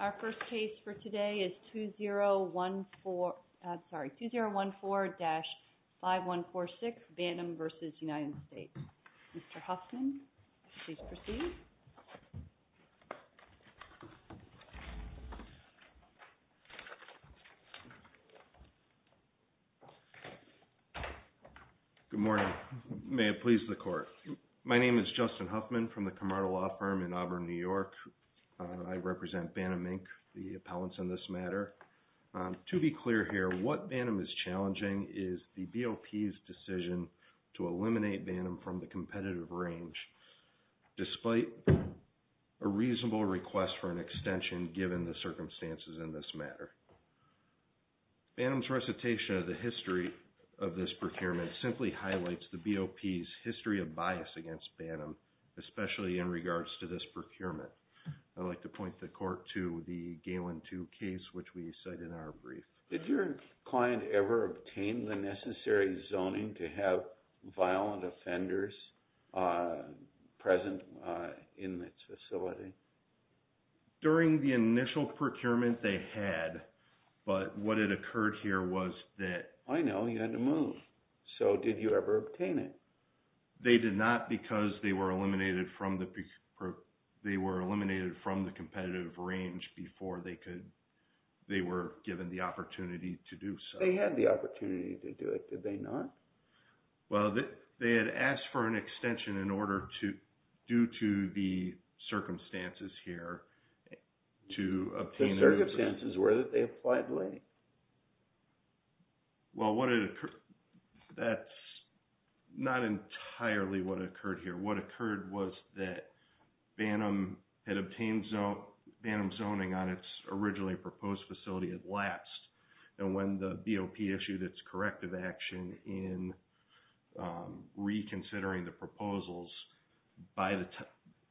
Our first case for today is 2014-5146, Bannum v. United States. Mr. Huffman, please proceed. Good morning. May it please the Court. My name is Justin Huffman from the Camargo Law Firm in Auburn, New York. I represent Bannum, Inc., the appellants in this matter. To be clear here, what Bannum is challenging is the BOP's decision to eliminate Bannum from the competitive range, despite a reasonable request for an extension given the circumstances in this matter. Bannum's recitation of the history of this procurement simply highlights the BOP's history of bias against Bannum, especially in regards to this procurement. I'd like to point the Court to the Galen 2 case, which we cite in our brief. Did your client ever obtain the necessary zoning to have violent offenders present in this facility? During the initial procurement, they had, but what had occurred here was that I know you had to move, so did you ever obtain it? They did not because they were eliminated from the competitive range before they were given the opportunity to do so. They had the opportunity to do it, did they not? Well, they had asked for an extension in order to, due to the circumstances here, to obtain... The circumstances were that they applied late. Well, that's not entirely what occurred here. What occurred was that Bannum had obtained Bannum zoning on its originally proposed facility at last, and when the BOP issued its corrective action in reconsidering the proposals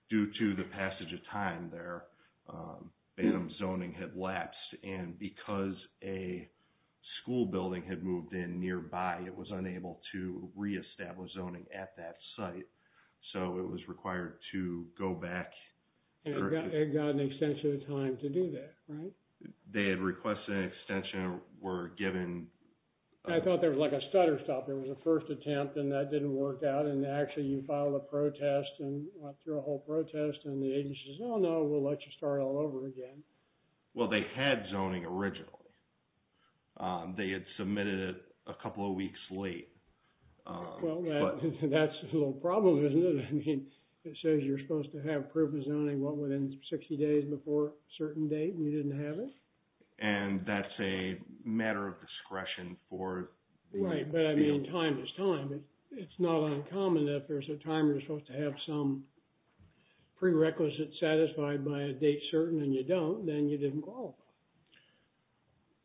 due to the passage of time there, Bannum's zoning had been removed from the existing zoning. So, it was required to go back... It got an extension of time to do that, right? They had requested an extension, were given... I thought there was like a stutter stop. There was a first attempt, and that didn't work out, and actually you filed a protest and went through a whole protest, and the agency says, no, we'll let you start all over again. Well, they had zoning originally. They had submitted it a couple of weeks late. Well, that's a little problem, isn't it? I mean, it says you're supposed to have proof of zoning, what, within 60 days before a certain date, and you didn't have it? And that's a matter of discretion for... Right, but I mean, time is time. It's not uncommon if there's a time you're supposed to have some prerequisite satisfied by a date certain and you don't, then you didn't qualify.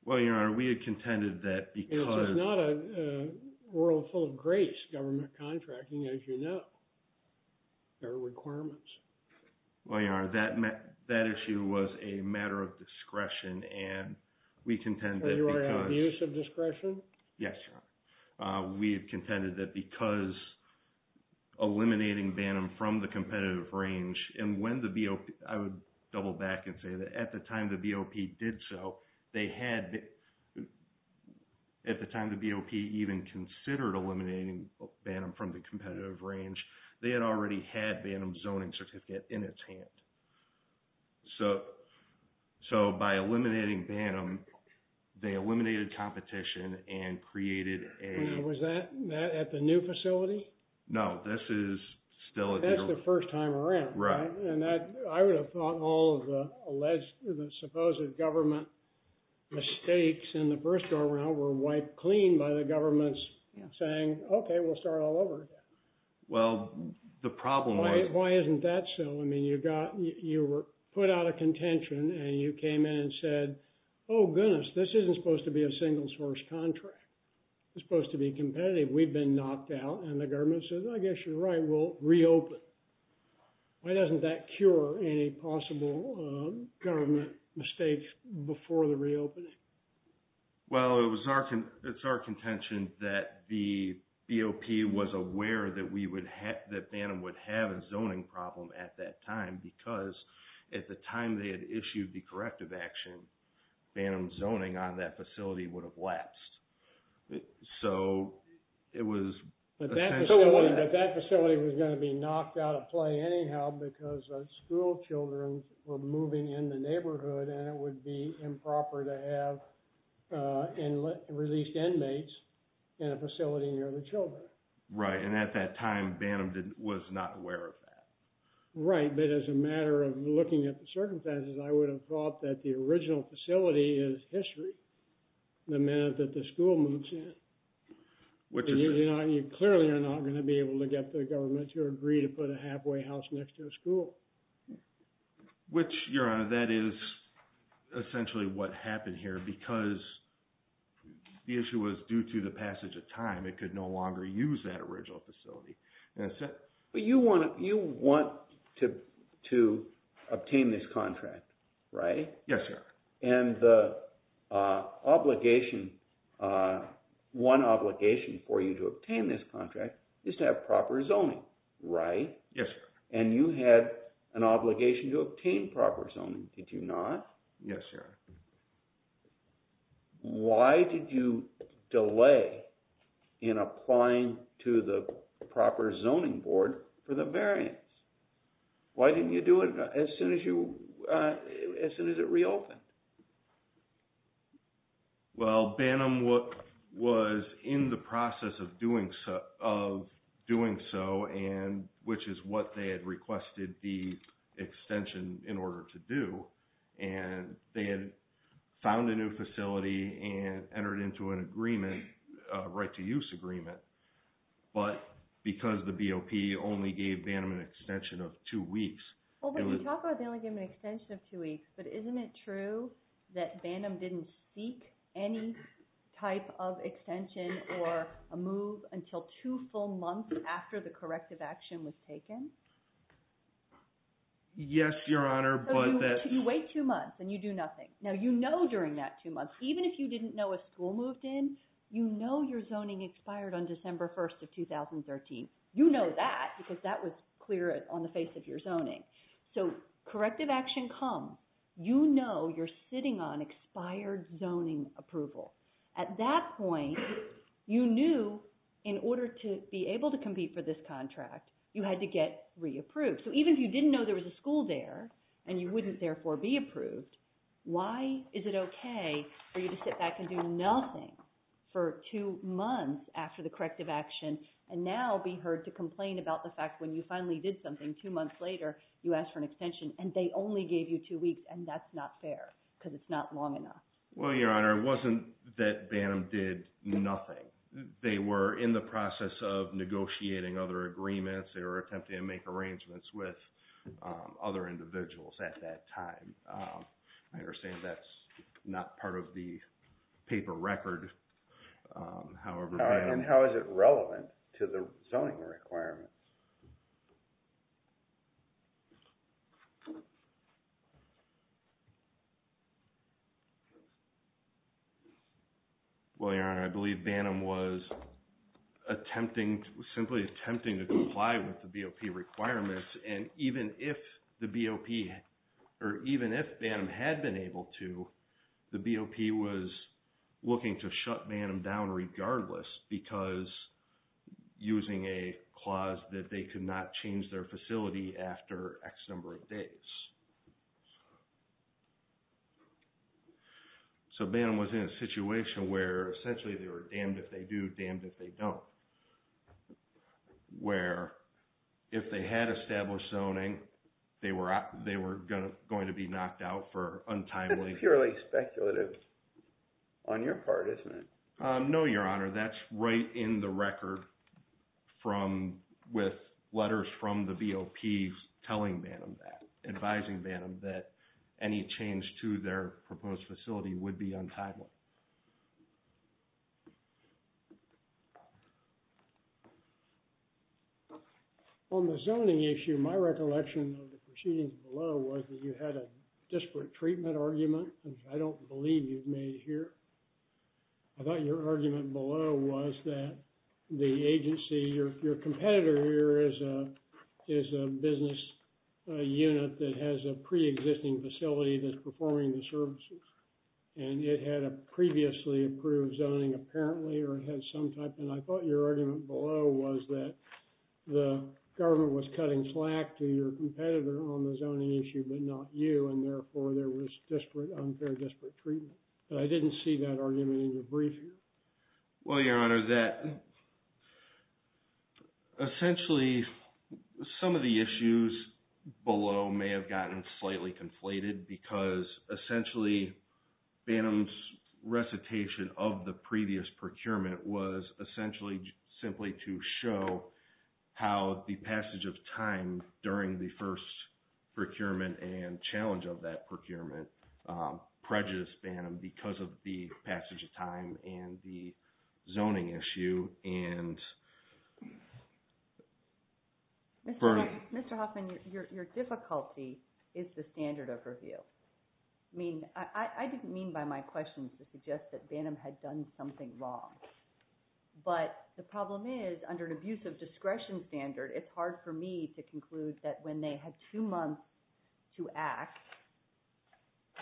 Well, Your Honor, we had contended that because... This is not a world full of grace, government contracting, as you know. There are requirements. Well, Your Honor, that issue was a matter of discretion, and we contend that because... And you are at abuse of discretion? Yes, Your Honor. We have contended that because eliminating BANNM from the competitive range, and when the BOP... I would double back and say that at the time the BOP did so, they had... At the time the BOP even considered eliminating BANNM from the competitive range, they had already had BANNM zoning certificate in its hand. So by eliminating BANNM, they eliminated competition and created a... Was that at the new facility? No, this is still... That's the first time around, right? Right. And that, I would have thought all of the alleged, the supposed government mistakes in the first go around were wiped clean by the government's saying, okay, we'll start all over again. Well, the problem was... Why isn't that so? You were put out of contention and you came in and said, oh goodness, this isn't supposed to be a single source contract. It's supposed to be competitive. We've been knocked out and the government says, I guess you're right, we'll reopen. Why doesn't that cure any possible government mistakes before the reopening? Well, it was our... It's our contention that the BOP was aware that we would have... That BANNM would have a zoning problem at that time because at the time they had issued the corrective action, BANNM zoning on that facility would have lapsed. So it was... But that facility was going to be knocked out of play anyhow because school children were moving in the neighborhood and it would be improper to have released inmates in a facility near the children. Right. And at that time BANNM was not aware of that. Right. But as a matter of looking at the circumstances, I would have thought that the original facility is history. The minute that the school moves in, you clearly are not going to be able to get the government to agree to put a halfway house next to a school. Which, Your Honor, that is essentially what happened here because the issue was due to the passage of time. It could no longer use that original facility. But you want to obtain this contract, right? Yes, sir. And the obligation, one obligation for you to obtain this contract is to have proper zoning, right? Yes, sir. And you had an obligation to obtain proper zoning, did you not? Yes, Your Honor. Why did you delay in applying to the proper zoning board for the variance? Why didn't you do it as soon as it reopened? Well, BANNM was in the process of doing so, and which is what they had requested the extension in order to do. And they had found a new facility and entered into an agreement, a right to use agreement. But because the BOP only gave BANNM an extension of two weeks... Well, when you talk about they only gave them an extension of two weeks, but isn't it true that BANNM didn't seek any type of extension or a move until two full months after the corrective action was taken? Yes, Your Honor, but that... So you wait two months and you do nothing. Now, you know during that two months, even if you didn't know a school moved in, you know your zoning expired on December 1st of 2013. You know that because that was clear on the face of your sitting on expired zoning approval. At that point, you knew in order to be able to compete for this contract, you had to get re-approved. So even if you didn't know there was a school there and you wouldn't therefore be approved, why is it okay for you to sit back and do nothing for two months after the corrective action and now be heard to complain about the fact when you finally did something two months later, you asked for an extension and they only gave you two weeks and that's not fair because it's not long enough. Well, Your Honor, it wasn't that BANNM did nothing. They were in the process of negotiating other agreements. They were attempting to make arrangements with other individuals at that time. I understand that's not part of the BOP. Well, Your Honor, I believe BANNM was attempting, simply attempting to comply with the BOP requirements and even if the BOP or even if BANNM had been able to, the BOP was looking to shut BANNM down regardless because using a clause that they could not change their terms. So BANNM was in a situation where essentially they were damned if they do, damned if they don't, where if they had established zoning, they were going to be knocked out for untimely... That's purely speculative on your part, isn't it? No, Your Honor, that's right in the case. Any change to their proposed facility would be untimely. On the zoning issue, my recollection of the proceedings below was that you had a disparate treatment argument, which I don't believe you've made here. I thought your argument below was that the agency, your competitor here is a business unit that has a pre-existing facility that's performing the services and it had a previously approved zoning apparently or it had some type and I thought your argument below was that the government was cutting slack to your competitor on the zoning issue but not you and therefore there was disparate, unfair disparate treatment. But I didn't see that argument in your brief here. Well, Your Honor, that essentially some of the issues below may have gotten slightly conflated because essentially BANNM's recitation of the previous procurement was essentially simply to show how the passage of time during the first procurement and challenge of that procurement prejudiced BANNM because of the passage of time and the zoning issue and... Mr. Hoffman, your difficulty is the standard overview. I mean, I didn't mean by my questions to suggest that BANNM had done something wrong. But the problem is under an abuse of discretion standard, it's hard for me to conclude that when they had two months to act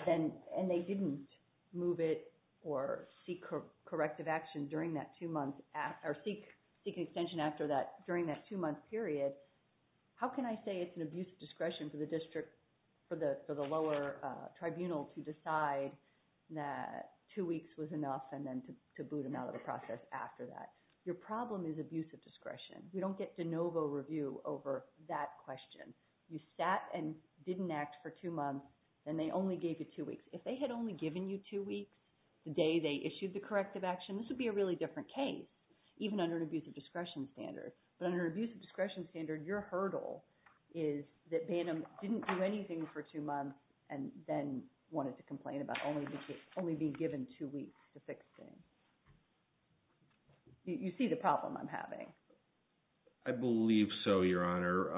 and they didn't move it or seek corrective action during that two months or seek extension after that, during that two-month period, how can I say it's an abuse of discretion for the district, for the lower tribunal to decide that two weeks was enough and then to boot them out of the process after that. Your problem is abuse of discretion. We don't get de novo review over that question. You sat and didn't act for two months and they only gave you two weeks. If they had only given you two weeks the day they issued the corrective action, this would be a really different case, even under an abuse of discretion standard. But under an abuse of discretion standard, your hurdle is that BANNM didn't do anything for two weeks to fix things. You see the problem I'm having. I believe so, Your Honor.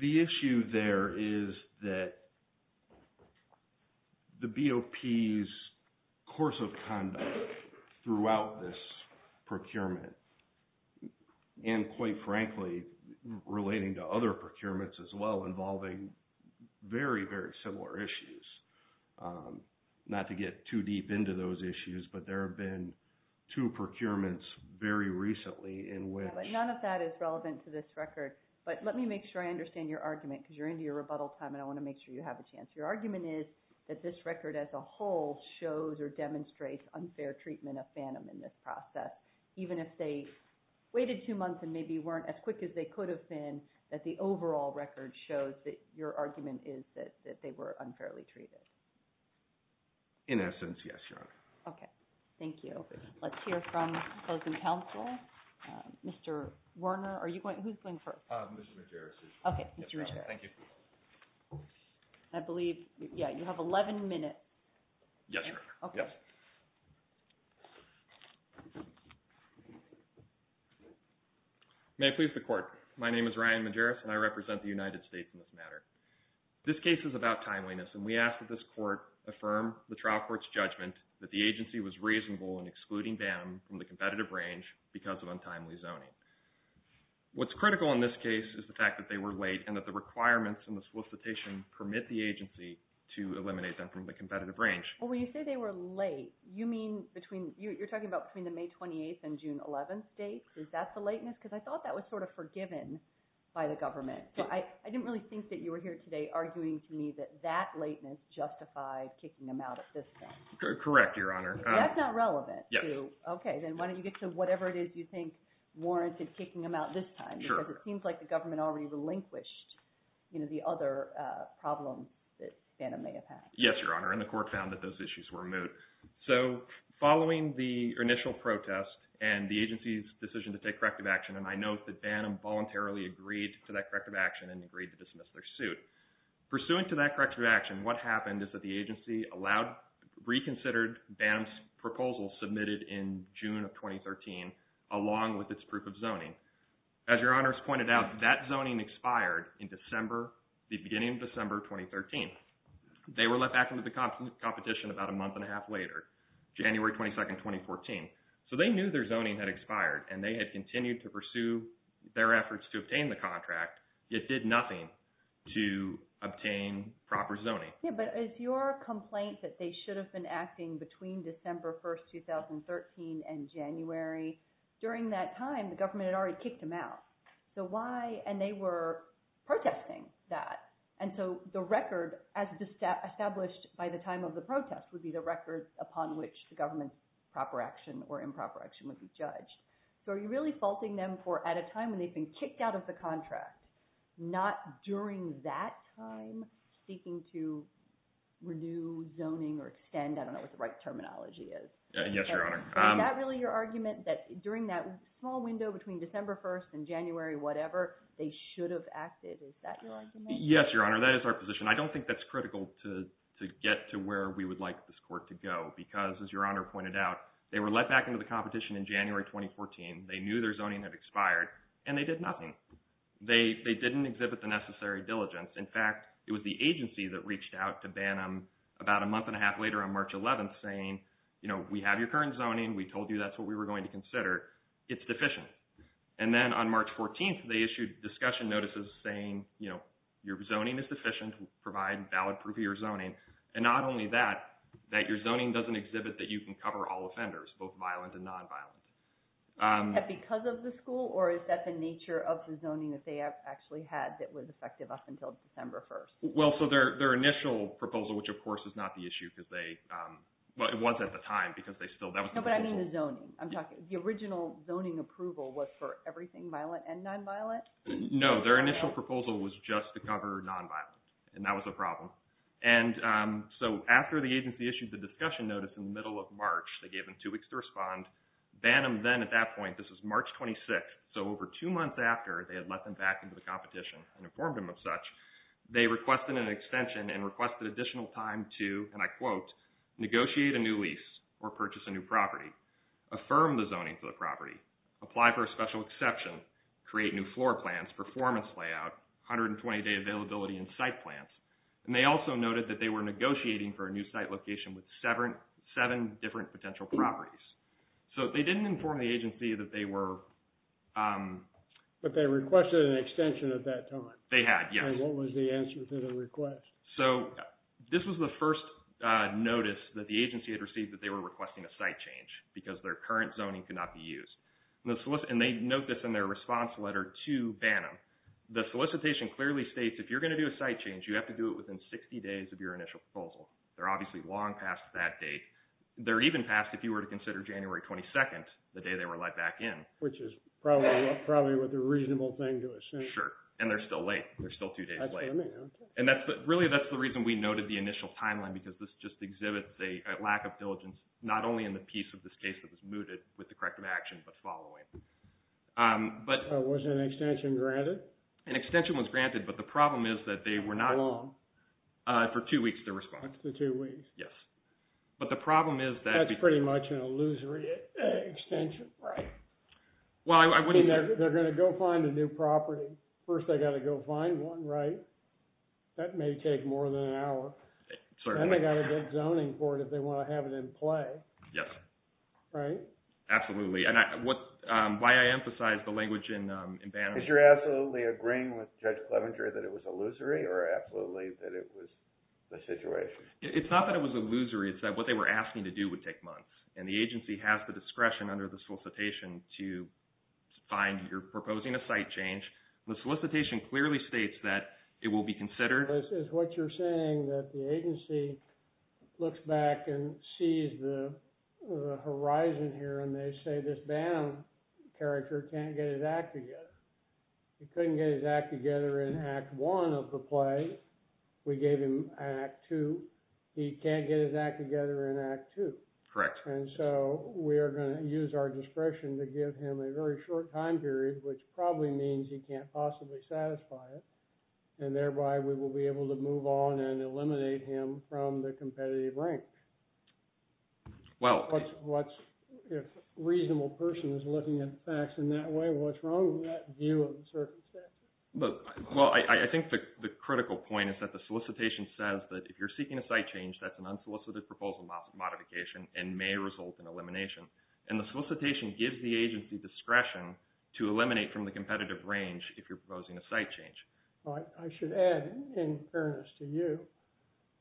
The issue there is that the BOP's course of conduct throughout this procurement and quite very similar issues. Not to get too deep into those issues, but there have been two procurements very recently in which- None of that is relevant to this record, but let me make sure I understand your argument because you're into your rebuttal time and I want to make sure you have a chance. Your argument is that this record as a whole shows or demonstrates unfair treatment of BANNM in this process, even if they waited two months and maybe weren't as sure. Your argument is that they were unfairly treated. In essence, yes, Your Honor. Okay. Thank you. Let's hear from closing counsel. Mr. Werner, who's going first? Mr. Majeris. Okay, Mr. Majeris. Thank you. I believe you have 11 minutes. Yes, Your Honor. Yes. May it please the court. My name is Ryan Majeris and I represent the United States in this matter. This case is about timeliness and we ask that this court affirm the trial court's judgment that the agency was reasonable in excluding BANNM from the competitive range because of untimely zoning. What's critical in this case is the fact that they were late and that the they were late. You're talking about between the May 28th and June 11th dates. Is that the lateness? Because I thought that was sort of forgiven by the government. I didn't really think that you were here today arguing to me that that lateness justified kicking them out at this time. Correct, Your Honor. That's not relevant. Okay. Then why don't you get to whatever it is you think warranted kicking them out this time because it seems like the government already relinquished the other problem that BANNM may have had. Yes, Your Honor. And the court found that those issues were moot. So following the initial protest and the agency's decision to take corrective action, and I note that BANNM voluntarily agreed to that corrective action and agreed to dismiss their suit. Pursuant to that corrective action, what happened is that the agency allowed reconsidered BANNM's proposal submitted in June of 2013 along with its proof of zoning. As Your Honor's pointed out, that zoning expired in December, the beginning of December 2013. They were let back into the competition about a month and a half later, January 22nd, 2014. So they knew their zoning had expired and they had continued to pursue their efforts to obtain the contract, yet did nothing to obtain proper zoning. Yeah, but is your complaint that they should have been acting between December 1st, 2013 and January? During that time, the government had already kicked them out. So why? And they were protesting that. And so the record as established by the time of the protest would be the record upon which the government's proper action or improper action would be judged. So are you really faulting them for at a time when they've been kicked out of the contract, not during that time seeking to renew zoning or extend? I don't know what the right terminology is. Yes, Your Honor. Is that really your argument, that during that small window between December 1st and January whatever, they should have acted? Is that your argument? Yes, Your Honor, that is our position. I don't think that's critical to get to where we would like this court to go, because as Your Honor pointed out, they were let back into the competition in January 2014. They knew their zoning had expired and they did nothing. They didn't exhibit the necessary diligence. In fact, it was the agency that reached out to BANNM about a month and a half later on March 11th saying, you know, we have your current zoning. We told you that's what we were going to consider. It's deficient. And then on March 14th, they issued discussion notices saying, you know, your zoning is deficient. Provide valid proof of your zoning. And not only that, that your zoning doesn't exhibit that you can cover all offenders, both violent and nonviolent. Because of the school or is that the nature of the zoning that they have actually had that was effective up until December 1st? Well, so their initial proposal, which of course is not the time because that was the original. No, but I mean the zoning. I'm talking, the original zoning approval was for everything violent and nonviolent? No, their initial proposal was just to cover nonviolent and that was a problem. And so after the agency issued the discussion notice in the middle of March, they gave them two weeks to respond. BANNM then at that point, this is March 26th, so over two months after they had let them back into the competition and informed them of such, they requested an extension and requested additional time to, and I quote, negotiate a new lease or purchase a new property, affirm the zoning for the property, apply for a special exception, create new floor plans, performance layout, 120 day availability and site plans. And they also noted that they were negotiating for a new site location with seven different potential properties. So they didn't inform the agency that they were... But they requested an extension at that time? They had, yes. And what was the answer to the request? So this was the first notice that the agency had received that they were requesting a site change because their current zoning could not be used. And they note this in their response letter to BANNM. The solicitation clearly states, if you're going to do a site change, you have to do it within 60 days of your initial proposal. They're obviously long past that date. They're even past if you were to consider January 22nd, the day they were let back in. Which is probably what the reasonable thing to assume. Sure. And they're still late. They're still two days late. And that's, really, that's the reason we noted the initial timeline. Because this just exhibits a lack of diligence, not only in the piece of this case that was mooted with the corrective action, but following. Was an extension granted? An extension was granted. But the problem is that they were not... How long? For two weeks to respond. Up to two weeks. Yes. But the problem is that... That's pretty much an illusory extension, right? Well, I wouldn't... They're going to go find a new property. First, they got to go find one, right? That may take more than an hour. Certainly. And they got a good zoning for it if they want to have it in play. Yes. Right? Absolutely. And why I emphasize the language in BANNM... Because you're absolutely agreeing with Judge Clevenger that it was illusory or absolutely that it was the situation? It's not that it was illusory. It's that what they were asking to do would take months. And the agency has the discretion under the solicitation to find... You're proposing a site change. The solicitation clearly states that it will be considered... It's what you're saying that the agency looks back and sees the horizon here and they say this BANNM character can't get his act together. He couldn't get his act together in Act 1 of the play. We gave him Act 2. He can't get his act together in Act 2. Correct. And so we are going to use our discretion to give him a very short time period, which probably means he can't possibly satisfy it, and thereby we will be able to move on and eliminate him from the competitive rank. Well... If a reasonable person is looking at facts in that way, what's wrong with that view of the circumstances? Well, I think the critical point is that the solicitation says that if you're seeking a site change, that's an unsolicited proposal modification and may result in elimination. And the solicitation gives the agency discretion to eliminate from the competitive range if you're proposing a site change. I should add, in fairness to you,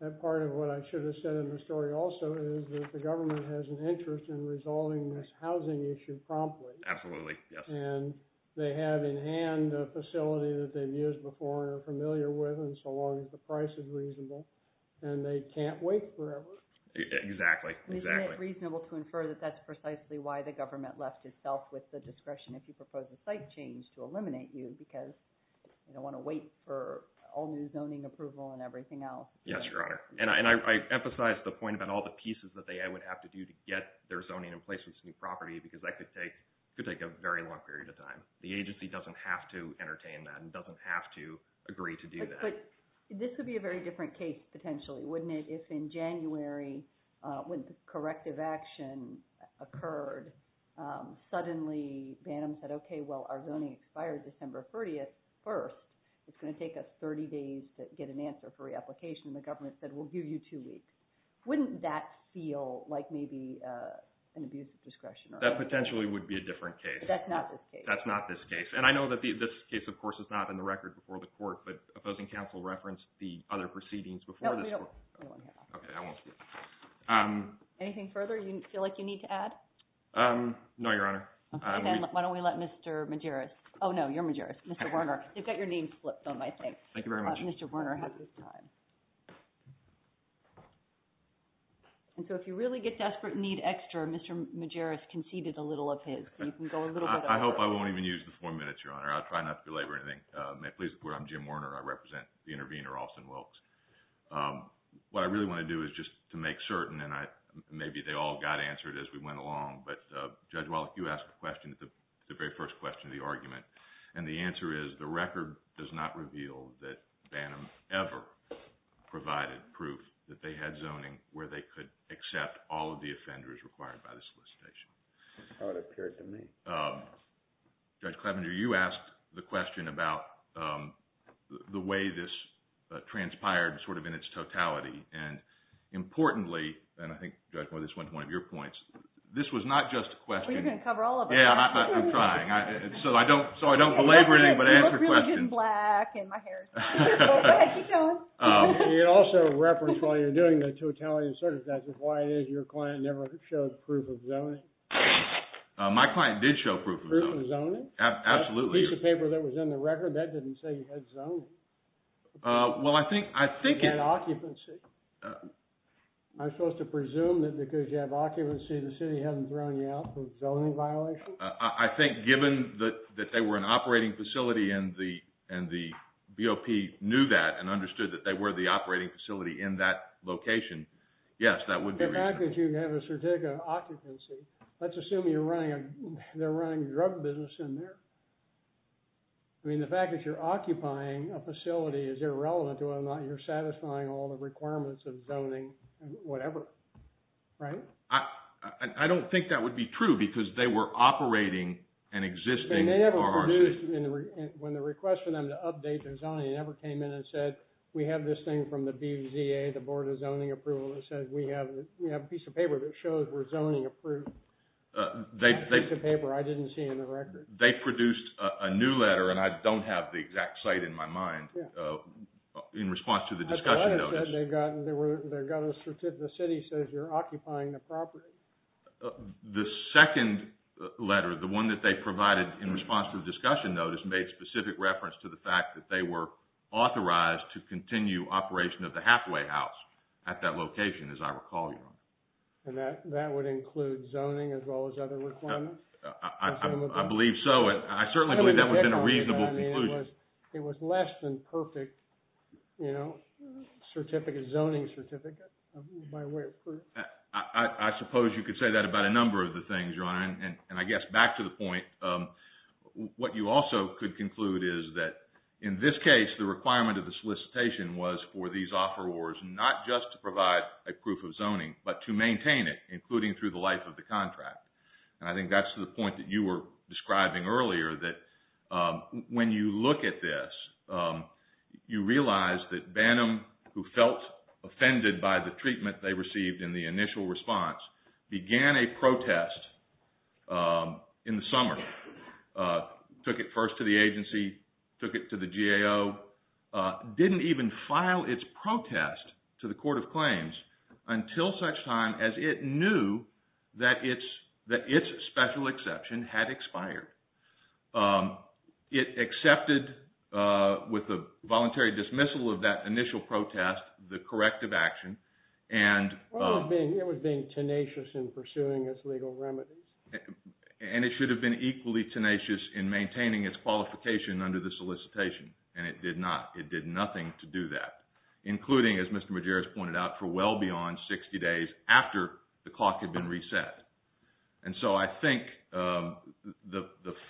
that part of what I should have said in the story also is that the government has an interest in resolving this housing issue promptly. Absolutely, yes. And they have in hand a facility that they've used before and are familiar with, and so long as the price is reasonable. And they can't wait forever. Exactly, exactly. Isn't it reasonable to infer that that's precisely why the government left itself with the discretion if you propose a site change to eliminate you, because you don't want to wait for all new zoning approval and everything else? Yes, Your Honor. And I emphasize the point about all the pieces that I would have to do to get their zoning in place with this new property, because that could take a very long period of time. The agency doesn't have to entertain that and doesn't have to agree to do that. This would be a very different case, potentially, wouldn't it, if in January, when the corrective action occurred, suddenly Bantam said, okay, well, our zoning expired December 30th first. It's going to take us 30 days to get an answer for reapplication, and the government said, we'll give you two weeks. Wouldn't that feel like maybe an abuse of discretion? That potentially would be a different case. That's not this case. That's not this case. And I know that this case, of course, is not in the record before the court, but opposing counsel referenced the other proceedings before this court. No, we don't. Hold on here. Okay, I won't speak. Anything further you feel like you need to add? No, Your Honor. Then why don't we let Mr. Majerus, oh, no, you're Majerus, Mr. Werner. You've got your name flipped on my thing. Thank you very much. Mr. Werner has his time. And so if you really get desperate and need extra, Mr. Majerus conceded a little of his, so you can go a little bit over. I hope I won't even use the four minutes, Your Honor. I'll try not to belabor anything. May it please the court, I'm Jim Werner. I represent the intervener, Alston Wilkes. What I really want to do is just to make certain, and maybe they all got answered as we went along, but Judge Wallach, you asked the question at the very first question of the argument, and the answer is the record does not reveal that Bannum ever provided proof that they had zoning where they could accept all of the offenders required by the solicitation. That's how it appeared to me. Judge Clevenger, you asked the question about the way this transpired sort of in its totality, and importantly, and I think, Judge Wallach, this went to one of your points, this was not just a question. Well, you're going to cover all of it. Yeah, I'm trying. So I don't belabor anything, but answer the question. You look really good in black and my hair. Go ahead, keep going. You also referenced while you were doing the totality of the certification, why it is your client never showed proof of zoning. My client did show proof of zoning. Proof of zoning? Absolutely. Piece of paper that was in the record, that didn't say you had zoning. Well, I think... You had occupancy. Am I supposed to presume that because you have occupancy, the city hasn't thrown you out for zoning violations? I think given that they were an operating facility and the BOP knew that and understood that they were the operating facility in that location, yes, that would be... The fact that you have a certificate of occupancy, let's assume they're running a drug business in there. I mean, the fact that you're occupying a facility is irrelevant to whether or not you're satisfying all the requirements of zoning and whatever, right? I don't think that would be true because they were operating an existing RRC. And they never produced, when the request for them to update their zoning, they never came in and said, we have this thing from the BZA, the Board of Zoning Approval, that says we have a piece of paper that shows we're zoning approved. That piece of paper, I didn't see in the record. They produced a new letter, and I don't have the exact site in my mind, in response to the discussion notice. They got a certificate, the city says you're occupying the property. The second letter, the one that they provided in response to the discussion notice, made specific reference to the fact that they were authorized to continue operation of the halfway house at that location, as I recall, Your Honor. And that would include zoning as well as other requirements? I believe so. And I certainly believe that would have been a reasonable conclusion. It was less than perfect, you know, zoning certificate, by way of proof. I suppose you could say that about a number of the things, Your Honor. And I guess back to the point, what you also could conclude is that in this case, the requirement of the solicitation was for these offerors not just to provide a proof of zoning, but to maintain it, including through the life of the contract. And I think that's the point that you were describing earlier, that when you look at this, you realize that Bantam, who felt offended by the treatment they received in the initial response, began a protest in the summer, took it first to the agency, took it to the GAO, didn't even file its protest to the Court of Claims until such time as it knew that its special exception had expired. It accepted, with a voluntary dismissal of that initial protest, the corrective action. Well, it was being tenacious in pursuing its legal remedies. And it should have been equally tenacious in maintaining its qualification under the solicitation. And it did not. It did nothing to do that, including, as Mr. Majeres pointed out, for well beyond 60 days after the clock had been reset. And so I think the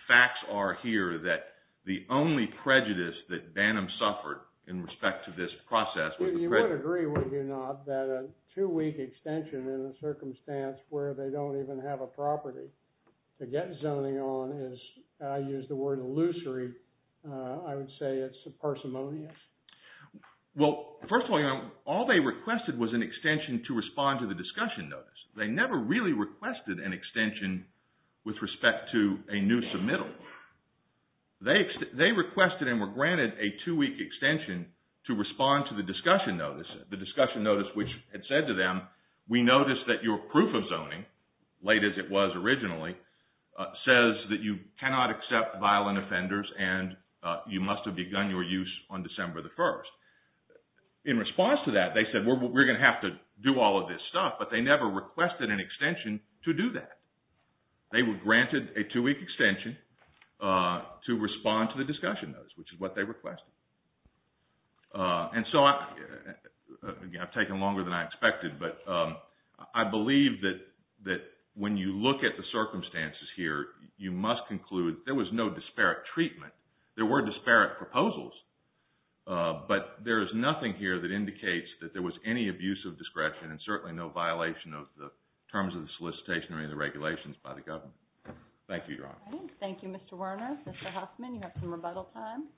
facts are here that the only prejudice that Bantam suffered in respect to this process was the prejudice— I would agree, would you not, that a two-week extension in a circumstance where they don't even have a property to get zoning on is, I use the word illusory, I would say it's parsimonious. Well, first of all, all they requested was an extension to respond to the discussion notice. They never really requested an extension with respect to a new submittal. They requested and were granted a two-week extension to respond to the discussion notice, the discussion notice which had said to them, we noticed that your proof of zoning, late as it was originally, says that you cannot accept violent offenders and you must have begun your use on December the 1st. In response to that, they said, we're going to have to do all of this stuff, but they never requested an extension to do that. They were granted a two-week extension to respond to the discussion notice, which is what they requested. And so, again, I've taken longer than I expected, but I believe that when you look at the circumstances here, you must conclude there was no disparate treatment. There were disparate proposals, but there is nothing here that indicates that there was any abuse of discretion and certainly no violation of the terms of the solicitation or any of the regulations by the government. Thank you, Your Honor. Thank you, Mr. Werner. Mr. Hoffman, you have some rebuttal time.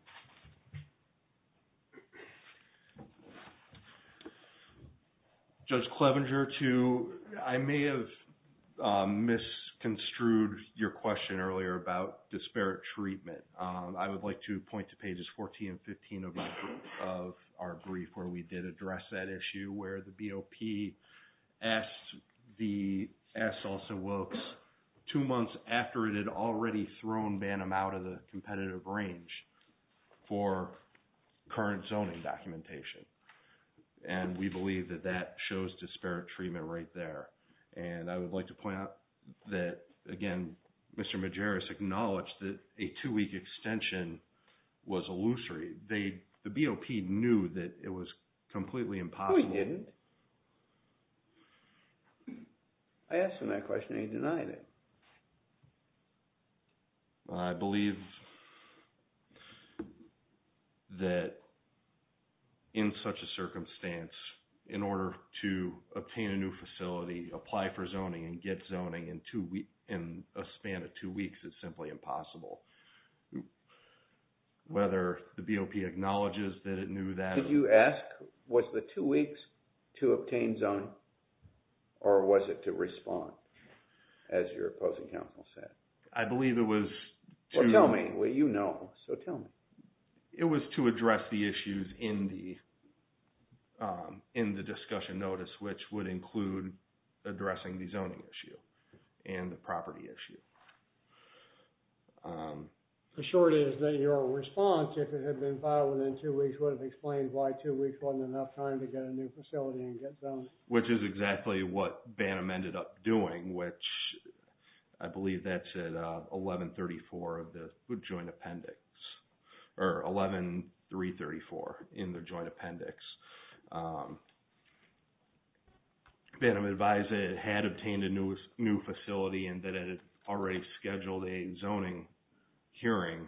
Judge Clevenger, I may have misconstrued your question earlier about disparate treatment. I would like to point to pages 14 and 15 of our brief where we did address that issue, where the BOP asked Salsa-Wilkes two months after it had already thrown Bantam out of the competitive range for current zoning documentation. And we believe that that shows disparate treatment right there. And I would like to point out that, again, Mr. Majerus acknowledged that a two-week extension was illusory. The BOP knew that it was completely impossible. No, he didn't. I asked him that question and he denied it. I believe that in such a circumstance, in order to obtain a new facility, apply for zoning, and get zoning in a span of two weeks, it's simply impossible. Whether the BOP acknowledges that it knew that... Was the two weeks to obtain zoning or was it to respond, as your opposing counsel said? I believe it was to... Well, tell me. Well, you know, so tell me. It was to address the issues in the discussion notice, which would include addressing the zoning issue and the property issue. The short is that your response, if it had been filed within two weeks, would have explained why two weeks wasn't enough time to get a new facility and get zoned. Which is exactly what Bannum ended up doing, which I believe that's at 1134 of the joint appendix, or 11334 in the joint appendix. Bannum advised that it had obtained a new facility and that it had already scheduled a zoning hearing.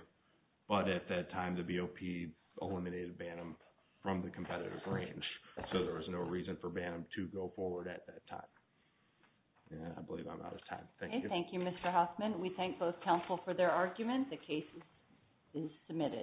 But at that time, the BOP eliminated Bannum from the competitive range. So there was no reason for Bannum to go forward at that time. I believe I'm out of time. Thank you. Thank you, Mr. Hoffman. We thank both counsel for their arguments. The case is submitted.